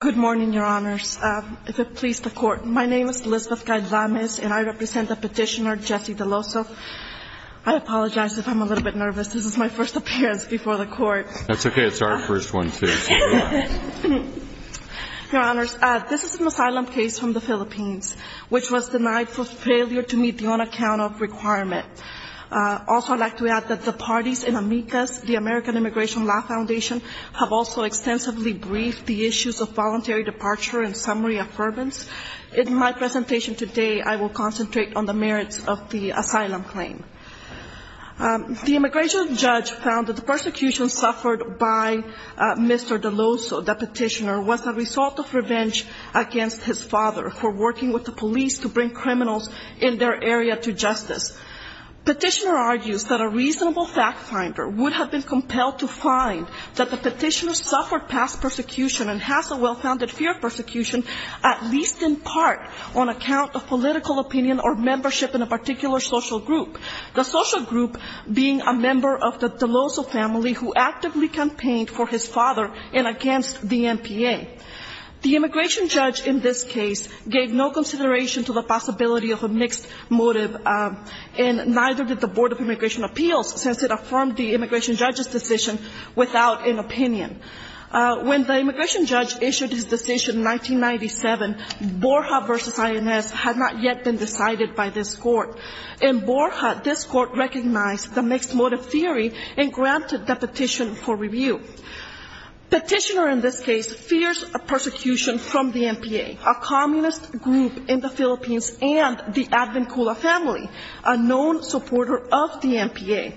Good morning, Your Honors. If it pleases the Court, my name is Lizbeth Caid-Lames, and I represent the petitioner Jesse DeLoso. I apologize if I'm a little bit nervous. This is my first appearance before the Court. That's okay. It's our first one, too. Your Honors, this is an asylum case from the Philippines, which was denied for failure to meet the on-account-off requirement. Also, I'd like to add that the parties in AMICAS, the American Immigration Law Foundation, have also extensively briefed the issues of voluntary departure and summary affirmance. In my presentation today, I will concentrate on the merits of the asylum claim. The immigration judge found that the persecution suffered by Mr. DeLoso, the petitioner, was the result of revenge against his father for working with the police to bring criminals in their area to justice. The petitioner argues that a reasonable fact finder would have been compelled to find that the petitioner suffered past persecution and has a well-founded fear of persecution, at least in part on account of political opinion or membership in a particular social group, the social group being a member of the DeLoso family who actively campaigned for his father and against the MPA. The immigration judge in this case gave no consideration to the possibility of a mixed motive and neither did the Board of Immigration Appeals, since it affirmed the immigration judge's decision without an opinion. When the immigration judge issued his decision in 1997, Borja v. INS had not yet been decided by this court. In Borja, this court recognized the mixed motive theory and granted the petition for review. Petitioner in this case fears persecution from the MPA, a communist group in the Philippines, and the Advincula family, a known supporter of the MPA.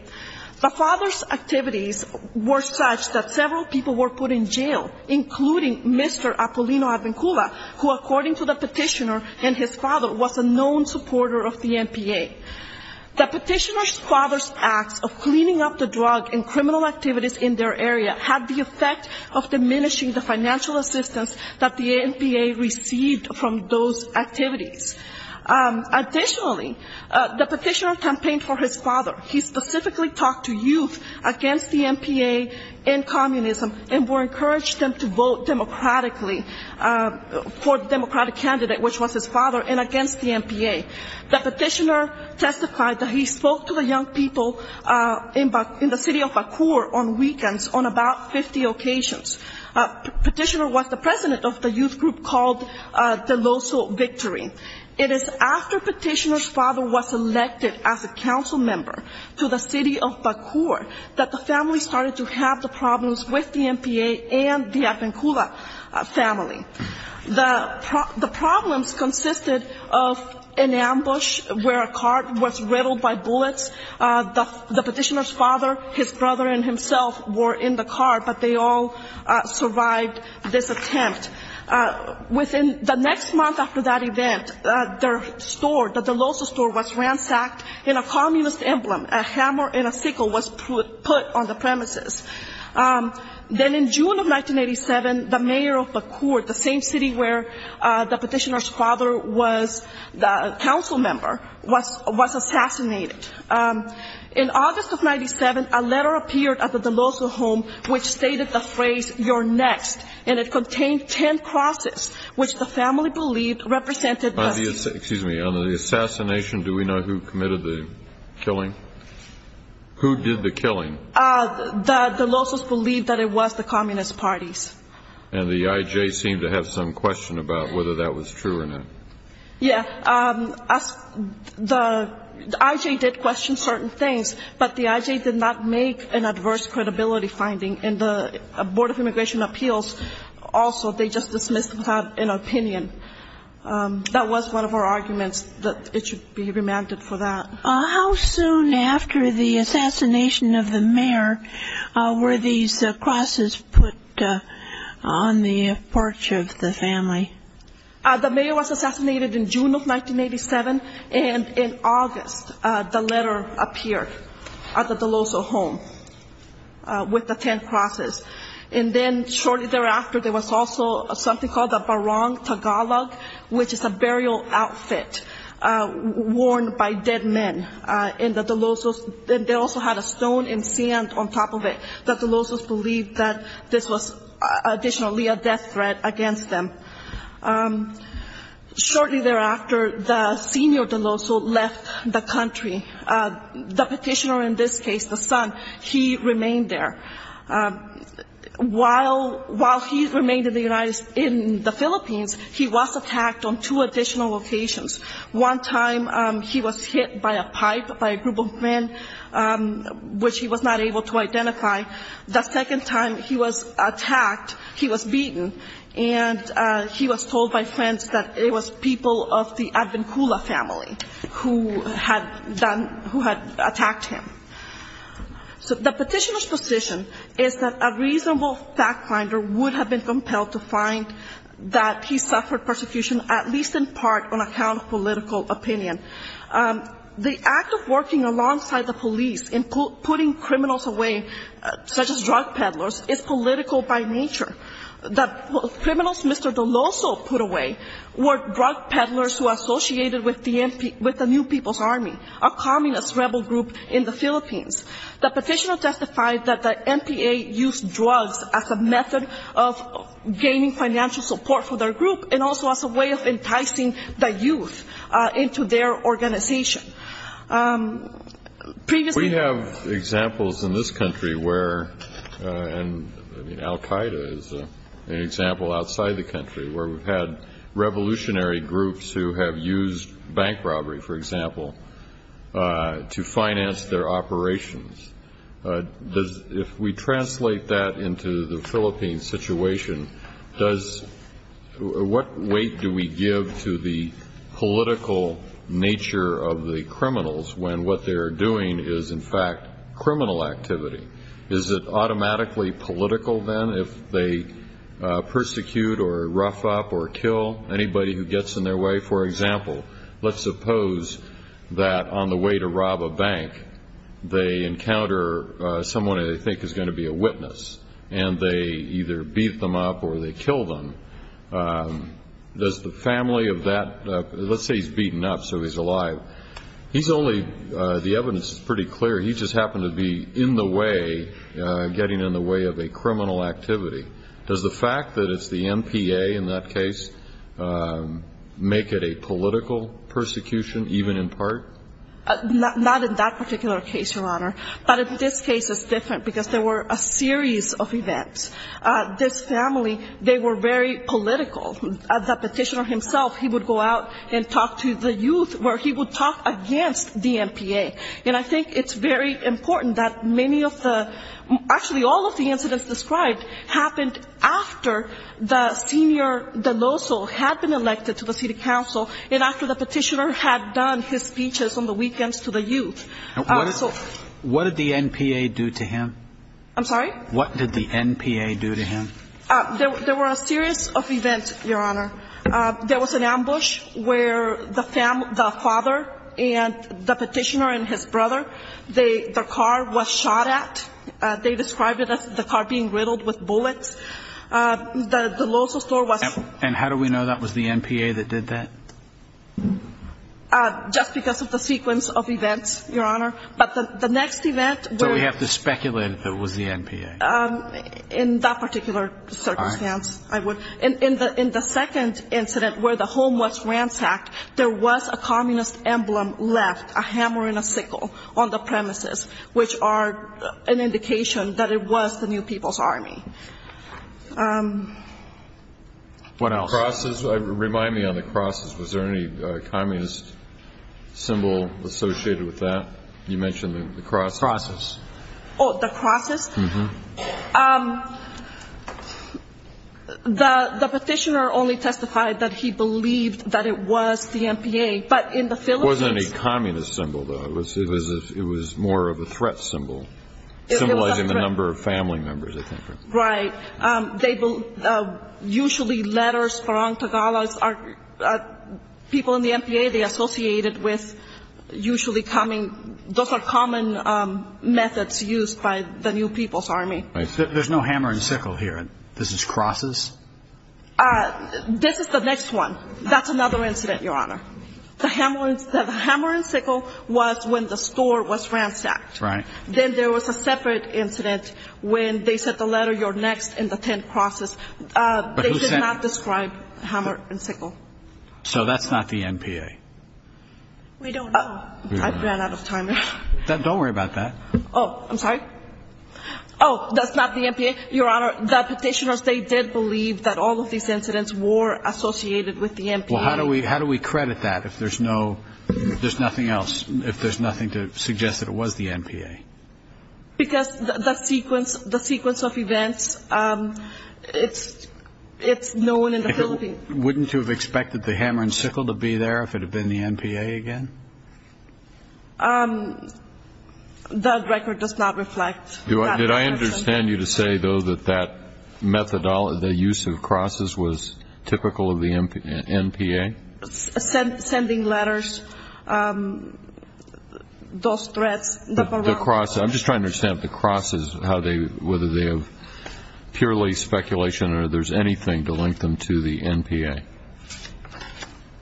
The father's activities were such that several people were put in jail, including Mr. Apolino Advincula, who, according to the petitioner and his father, was a known supporter of the MPA. The petitioner's father's acts of cleaning up the drug and criminal activities in their area had the effect of diminishing the financial assistance that the MPA received from those activities. Additionally, the petitioner campaigned for his father. He specifically talked to youth against the MPA and communism and encouraged them to vote democratically for the democratic candidate, which was his father, and against the MPA. The petitioner testified that he spoke to the young people in the city of Bacur on weekends on about 50 occasions. Petitioner was the president of the youth group called Deloso Victory. It is after petitioner's father was elected as a council member to the city of Bacur that the family started to have the problems with the MPA and the Advincula family. The problems consisted of an ambush where a cart was riddled by bullets. The petitioner's father, his brother, and himself were in the cart, but they all survived this attempt. Within the next month after that event, their store, the Deloso store, was ransacked, and a communist emblem, a hammer and a sickle, was put on the premises. Then in June of 1987, the mayor of Bacur, the same city where the petitioner's father was the council member, was assassinated. In August of 97, a letter appeared at the Deloso home, which stated the phrase, You're next, and it contained ten crosses, which the family believed represented the... On the assassination, do we know who committed the killing? Who did the killing? The Delosos believed that it was the communist parties. And the I.J. seemed to have some question about whether that was true or not. Yeah. The I.J. did question certain things, but the I.J. did not make an adverse credibility finding. And the Board of Immigration Appeals also, they just dismissed without an opinion. That was one of our arguments that it should be remanded for that. How soon after the assassination of the mayor were these crosses put on the porch of the family? The mayor was assassinated in June of 1987, and in August, the letter appeared at the Deloso home with the ten crosses. And then, shortly thereafter, there was also something called the Barong Tagalog, which is a burial outfit worn by dead men in the Delosos. They also had a stone and sand on top of it. The Delosos believed that this was additionally a death threat against them. Shortly thereafter, the senior Deloso left the country. The petitioner in this case, the son, he remained there. While he remained in the Philippines, he was attacked on two additional occasions. One time, he was hit by a pipe by a group of men, which he was not able to identify. The second time he was attacked, he was beaten. And he was told by friends that it was people of the Advincula family who had done, who had attacked him. So the petitioner's position is that a reasonable fact finder would have been compelled to find that he suffered persecution, at least in part, on account of political opinion. The act of working alongside the police in putting criminals away, such as drug peddlers, is political by nature. The criminals Mr. Deloso put away were drug peddlers who associated with the New People's Army, a communist rebel group in the Philippines. The petitioner testified that the NPA used drugs as a method of gaining financial support for their group and also as a way of enticing the youth into their organization. Previously... We have examples in this country where, and Al-Qaeda is an example outside the country, where we've had revolutionary groups who have used bank robbery, for example, to finance their operations. If we translate that into the Philippines situation, what weight do we give to the political nature of the criminals when what they're doing is, in fact, criminal activity? Is it automatically political then if they persecute or rough up or kill anybody who gets in their way? For example, let's suppose that on the way to rob a bank they encounter someone they think is going to be a witness, and they either beat them up or they kill them. Does the family of that, let's say he's beaten up so he's alive, he's only, the evidence is pretty clear, he just happened to be in the way, getting in the way of a criminal activity. Does the fact that it's the NPA in that case make it a political persecution even in part? Not in that particular case, Your Honor. But in this case it's different, because there were a series of events. This family, they were very political. The petitioner himself, he would go out and talk to the youth, where he would talk against the NPA. And I think it's very important that many of the, actually all of the incidents described, happened after the senior de loso had been elected to the city council and after the petitioner had done his speeches on the weekends to the youth. What did the NPA do to him? I'm sorry? What did the NPA do to him? There were a series of events, Your Honor. There was an ambush where the father and the petitioner and his brother, their car was shot at. They described it as the car being riddled with bullets. The de loso store was- And how do we know that was the NPA that did that? Just because of the sequence of events, Your Honor. But the next event- So we have to speculate if it was the NPA. In that particular circumstance, I would. In the second incident where the home was ransacked, there was a communist emblem left, a hammer and a sickle, on the premises, which are an indication that it was the New People's Army. What else? The crosses. Remind me on the crosses. Was there any communist symbol associated with that? You mentioned the crosses. Crosses. Oh, the crosses? Mm-hmm. The petitioner only testified that he believed that it was the NPA. But in the Philippines- It wasn't any communist symbol, though. It was more of a threat symbol, symbolizing the number of family members, I think. Right. Usually letters from Tagalos are people in the NPA, they associate it with usually coming- Those are common methods used by the New People's Army. Right. There's no hammer and sickle here. This is crosses? This is the next one. That's another incident, Your Honor. The hammer and sickle was when the store was ransacked. Right. Then there was a separate incident when they said the letter, you're next in the 10 crosses. They did not describe hammer and sickle. So that's not the NPA? We don't know. I ran out of time. Don't worry about that. Oh, I'm sorry? Oh, that's not the NPA? Your Honor, the petitioners, they did believe that all of these incidents were associated with the NPA. Well, how do we credit that if there's nothing else, if there's nothing to suggest that it was the NPA? Because the sequence of events, it's known in the Philippines. Wouldn't you have expected the hammer and sickle to be there if it had been the NPA again? That record does not reflect that. Did I understand you to say, though, that that methodology, the use of crosses was typical of the NPA? Sending letters, those threats. The crosses. I'm just trying to understand if the crosses, whether they have purely speculation or there's anything to link them to the NPA.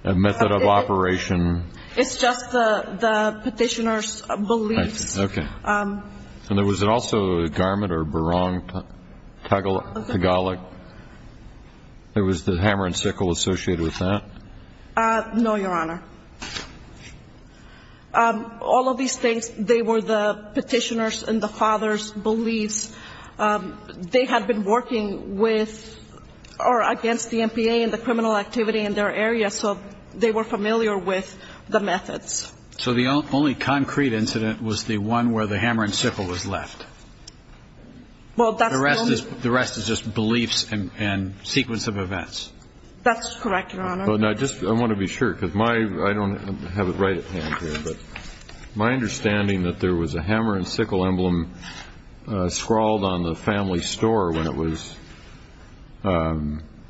A method of operation. It's just the petitioners' beliefs. Okay. And there was also a garment or Barong Tagalog. Was the hammer and sickle associated with that? No, Your Honor. All of these things, they were the petitioners' and the fathers' beliefs. They had been working with or against the NPA and the criminal activity in their area, so they were familiar with the methods. So the only concrete incident was the one where the hammer and sickle was left? The rest is just beliefs and sequence of events. That's correct, Your Honor. I want to be sure, because I don't have it right at hand here, but my understanding that there was a hammer and sickle emblem scrawled on the family store when it was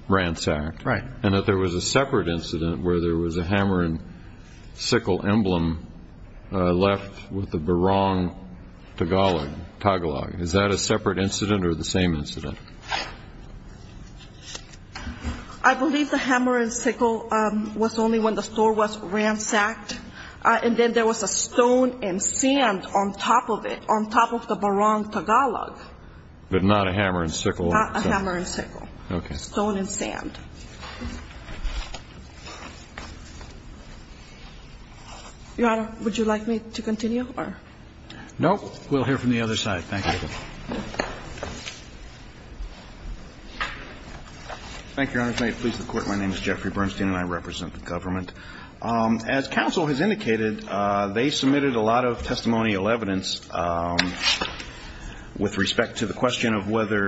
ransacked. Right. And that there was a separate incident where there was a hammer and sickle emblem left with the Barong Tagalog. Is that a separate incident or the same incident? I believe the hammer and sickle was only when the store was ransacked, and then there was a stone and sand on top of it, on top of the Barong Tagalog. But not a hammer and sickle? Not a hammer and sickle. Okay. And the stone and sand. Your Honor, would you like me to continue? No, we'll hear from the other side. Thank you. Thank you, Your Honor. If I may please the Court, my name is Jeffrey Bernstein, and I represent the government. As counsel has indicated, they submitted a lot of testimonial evidence with respect to the question of whether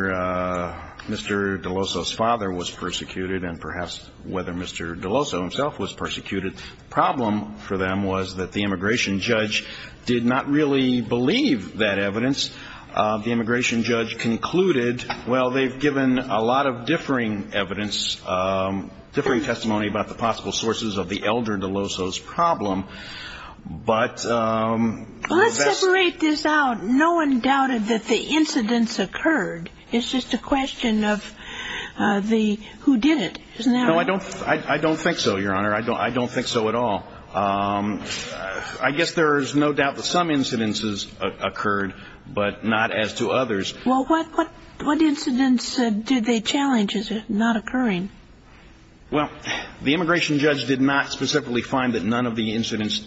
Mr. DeLoso's father was persecuted and perhaps whether Mr. DeLoso himself was persecuted. The problem for them was that the immigration judge did not really believe that evidence. The immigration judge concluded, well, they've given a lot of differing evidence, differing testimony about the possible sources of the elder DeLoso's problem. Well, let's separate this out. No one doubted that the incidents occurred. It's just a question of who did it, isn't that right? No, I don't think so, Your Honor. I don't think so at all. I guess there's no doubt that some incidences occurred, but not as to others. Well, what incidents did they challenge? Is it not occurring? Well, the immigration judge did not specifically find that none of the incidents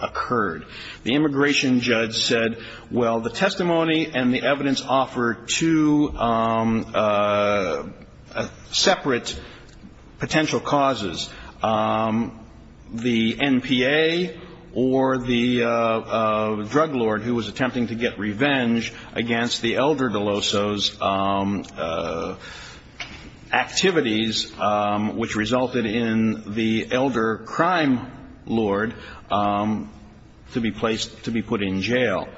occurred. The immigration judge said, well, the testimony and the evidence offer two separate potential causes. The NPA or the drug lord who was attempting to get revenge against the elder DeLoso's activities, which resulted in the elder crime lord to be placed, to be put in jail.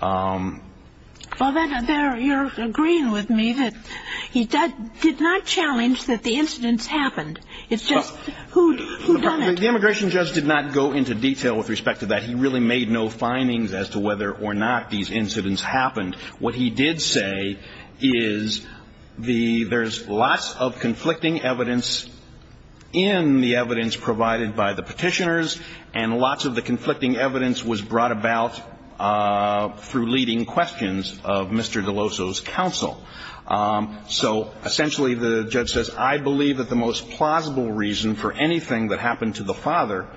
Well, you're agreeing with me that he did not challenge that the incidents happened. It's just who done it? The immigration judge did not go into detail with respect to that. He really made no findings as to whether or not these incidents happened. What he did say is there's lots of conflicting evidence in the evidence provided by the Petitioners, and lots of the conflicting evidence was brought about through leading questions of Mr. DeLoso's counsel. So essentially the judge says, I believe that the most plausible reason for anything that happened to the father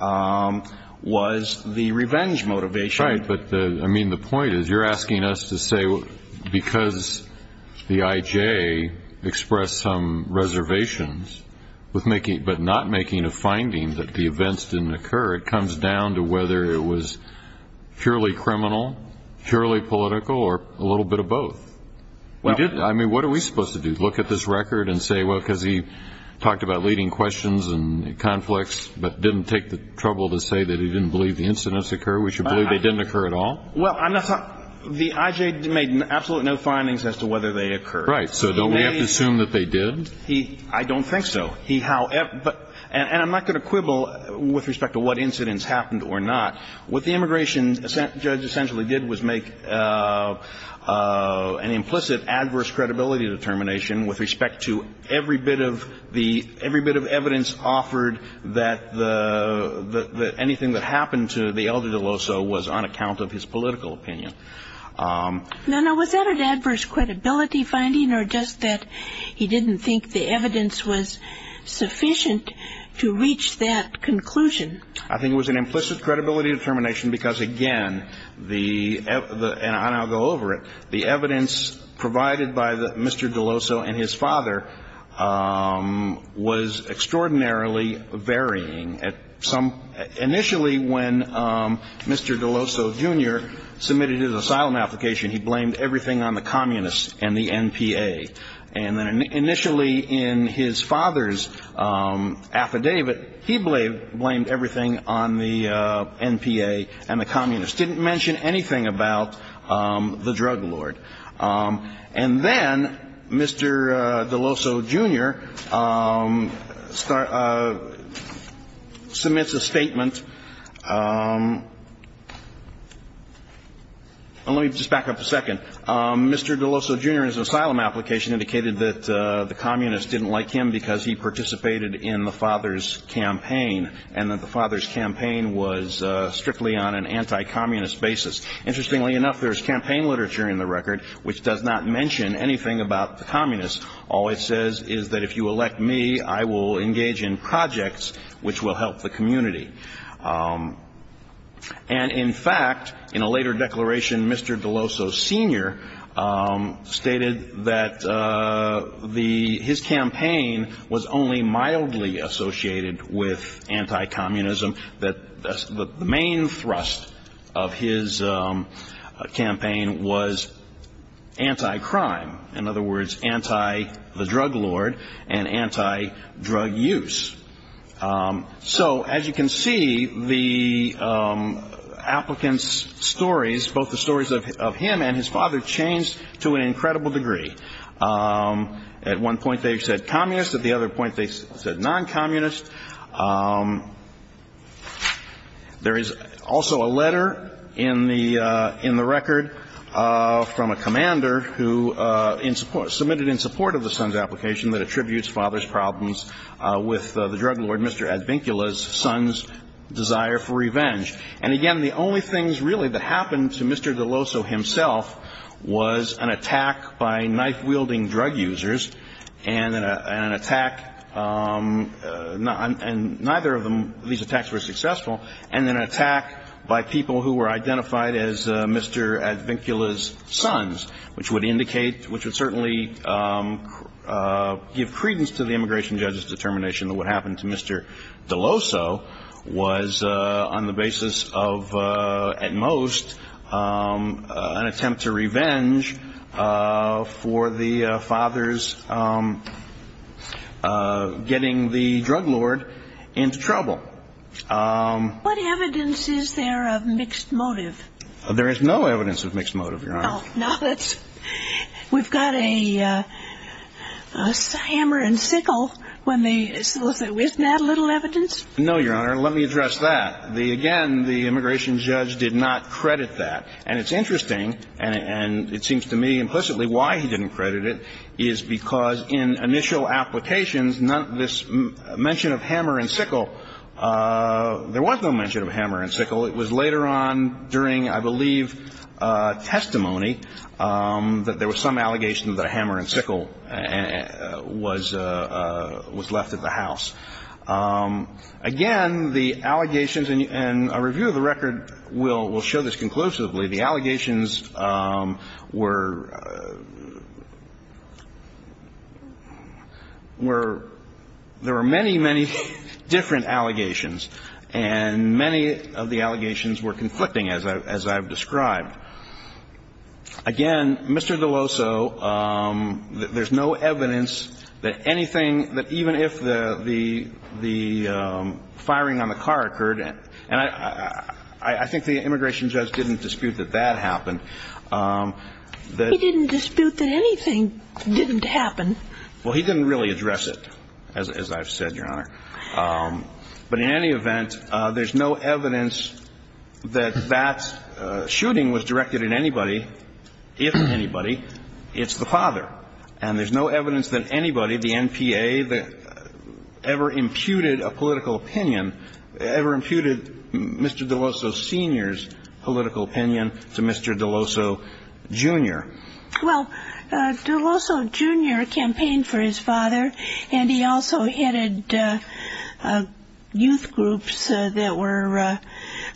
was the revenge motivation. Right. But, I mean, the point is you're asking us to say because the IJ expressed some reservations, but not making a finding that the events didn't occur, it comes down to whether it was purely criminal, purely political, or a little bit of both. I mean, what are we supposed to do, look at this record and say, well, because he talked about leading questions and conflicts, but didn't take the trouble to say that he didn't believe the incidents occurred, we should believe they didn't occur at all? Well, the IJ made absolutely no findings as to whether they occurred. Right. So don't we have to assume that they did? I don't think so. And I'm not going to quibble with respect to what incidents happened or not. What the immigration judge essentially did was make an implicit adverse credibility determination with respect to every bit of evidence offered that anything that happened to the elder DeLoso was on account of his political opinion. No, no, was that an adverse credibility finding, or just that he didn't think the evidence was sufficient to reach that conclusion? I think it was an implicit credibility determination because, again, and I'll go over it, the evidence provided by Mr. DeLoso and his father was extraordinarily varying. Initially when Mr. DeLoso, Jr. submitted his asylum application, he blamed everything on the communists and the NPA. And then initially in his father's affidavit, he blamed everything on the NPA and the communists, didn't mention anything about the drug lord. And then Mr. DeLoso, Jr. submits a statement. Let me just back up a second. Mr. DeLoso, Jr.'s asylum application indicated that the communists didn't like him because he participated in the father's campaign and that the father's campaign was strictly on an anti-communist basis. Interestingly enough, there's campaign literature in the record which does not mention anything about the communists. All it says is that if you elect me, I will engage in projects which will help the community. And in fact, in a later declaration, Mr. DeLoso, Sr., stated that his campaign was only mildly associated with anti-communism, that the main thrust of his campaign was anti-crime. In other words, anti-the drug lord and anti-drug use. So as you can see, the applicant's stories, both the stories of him and his father, changed to an incredible degree. At one point they said communists, at the other point they said non-communists. There is also a letter in the record from a commander who submitted in support of the son's application that attributes father's problems with the drug lord, Mr. Advincula's, son's desire for revenge. And again, the only things really that happened to Mr. DeLoso himself was an attack by knife-wielding drug users and an attack, and neither of these attacks were successful, and an attack by people who were identified as Mr. Advincula's sons, which would indicate, which would certainly give credence to the immigration judge's determination that what happened to Mr. DeLoso was on the basis of, at most, an attempt to revenge for the father's getting the drug lord into trouble. What evidence is there of mixed motive? There is no evidence of mixed motive, Your Honor. Oh, no. We've got a hammer and sickle when they solicit. Isn't that a little evidence? No, Your Honor. Let me address that. Again, the immigration judge did not credit that. And it's interesting, and it seems to me implicitly why he didn't credit it, is because in initial applications, this mention of hammer and sickle, there was no mention of hammer and sickle. It was later on during, I believe, testimony, that there was some allegation that a hammer and sickle was left at the house. Again, the allegations, and a review of the record will show this conclusively. The allegations were – were – there were many, many different allegations, and many of the allegations were conflicting, as I've described. Again, Mr. DeLoso, there's no evidence that anything – that even if the family It was the mother. And I think that the firing on the car occurred, and I think the immigration judge didn't dispute that that happened. He didn't dispute that anything didn't happen. Well, he didn't really address it, as I've said, Your Honor. But in any event, there's no evidence that that shooting was directed at anybody, if anybody. It's the father. And there's no evidence that anybody, the NPA, ever imputed a political opinion, ever imputed Mr. DeLoso Sr.'s political opinion to Mr. DeLoso Jr. Well, DeLoso Jr. campaigned for his father, and he also headed youth groups that were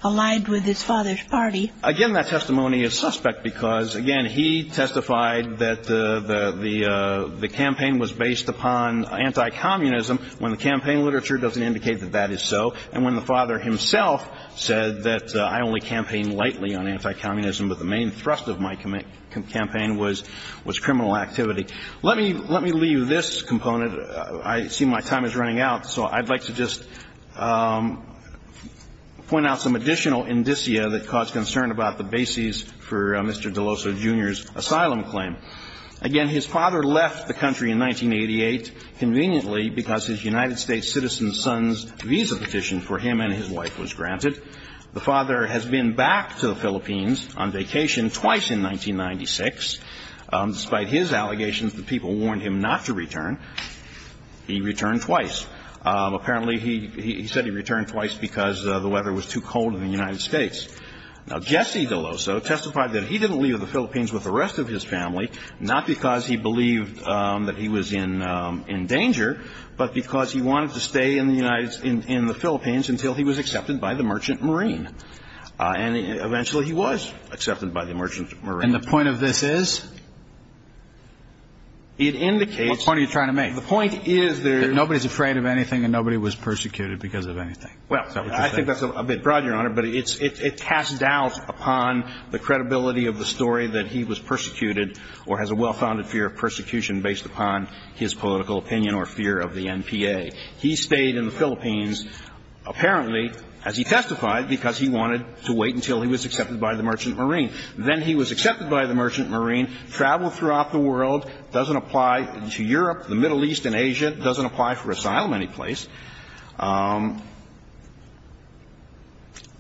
allied with his father's party. Again, that testimony is suspect because, again, he testified that the campaign was based upon anti-communism when the campaign literature doesn't indicate that that is so, and when the father himself said that, I only campaigned lightly on anti-communism, but the main thrust of my campaign was criminal activity. Let me leave this component. I see my time is running out, so I'd like to just point out some additional indicia that cause concern about the bases for Mr. DeLoso Jr.'s asylum claim. Again, his father left the country in 1988 conveniently because his United States citizen son's visa petition for him and his wife was granted. The father has been back to the Philippines on vacation twice in 1996. Despite his allegations that people warned him not to return, he returned twice. Apparently, he said he returned twice because the weather was too cold in the United States. Now, Jesse DeLoso testified that he didn't leave the Philippines with the rest of his family, not because he believed that he was in danger, but because he wanted to stay in the Philippines until he was accepted by the Merchant Marine. And eventually he was accepted by the Merchant Marine. And the point of this is? It indicates... What point are you trying to make? The point is that... Nobody's afraid of anything and nobody was persecuted because of anything. Well, I think that's a bit broad, Your Honor, but it casts doubt upon the credibility of the story that he was persecuted or has a well-founded fear of persecution based upon his political opinion or fear of the NPA. He stayed in the Philippines, apparently, as he testified, because he wanted to wait until he was accepted by the Merchant Marine. Then he was accepted by the Merchant Marine, traveled throughout the world, doesn't apply to Europe, the Middle East and Asia, doesn't apply for asylum anyplace.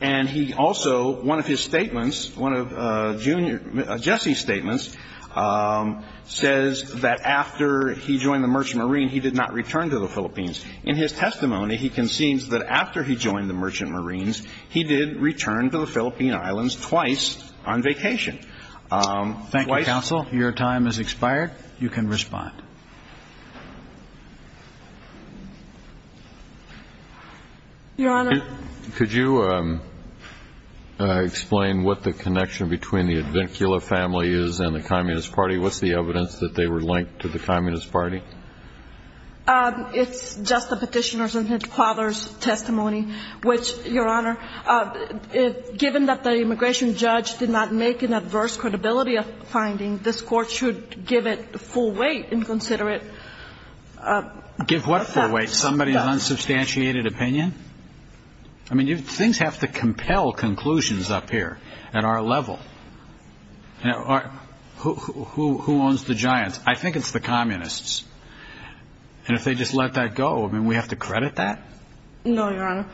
And he also, one of his statements, one of Jesse's statements, says that after he joined the Merchant Marine, he did not return to the Philippines. In his testimony, he concedes that after he joined the Merchant Marines, he did return to the Philippine Islands twice on vacation. Thank you, counsel. Your time has expired. You can respond. Your Honor. Could you explain what the connection between the Advincula family is and the Communist Party? What's the evidence that they were linked to the Communist Party? It's just the petitioner's and his father's testimony, which, Your Honor, given that the immigration judge did not make an adverse credibility finding, this Court should give it full weight and consider it. Give what full weight? Somebody's unsubstantiated opinion? I mean, things have to compel conclusions up here at our level. Who owns the giants? I think it's the communists. And if they just let that go, I mean, we have to credit that? No, Your Honor.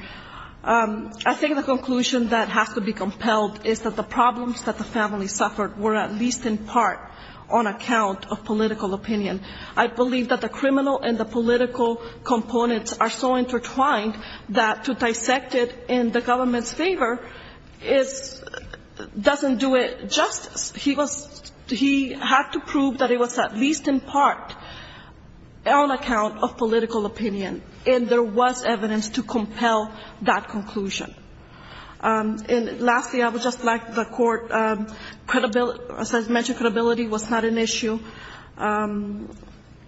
I think the conclusion that has to be compelled is that the problems that the family suffered were at least in part on account of political opinion. I believe that the criminal and the political components are so intertwined that to dissect it in the government's favor doesn't do it justice. He had to prove that it was at least in part on account of political opinion, and there was evidence to compel that conclusion. And lastly, I would just like the Court to mention credibility was not an issue. And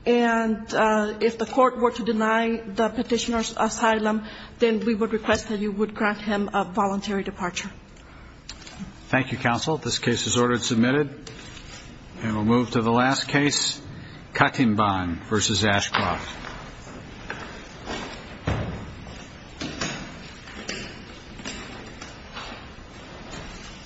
if the Court were to deny the petitioner's asylum, then we would request that you would grant him a voluntary departure. Thank you, counsel. This case is ordered and submitted. And we'll move to the last case, Kattenbahn v. Ashcroft.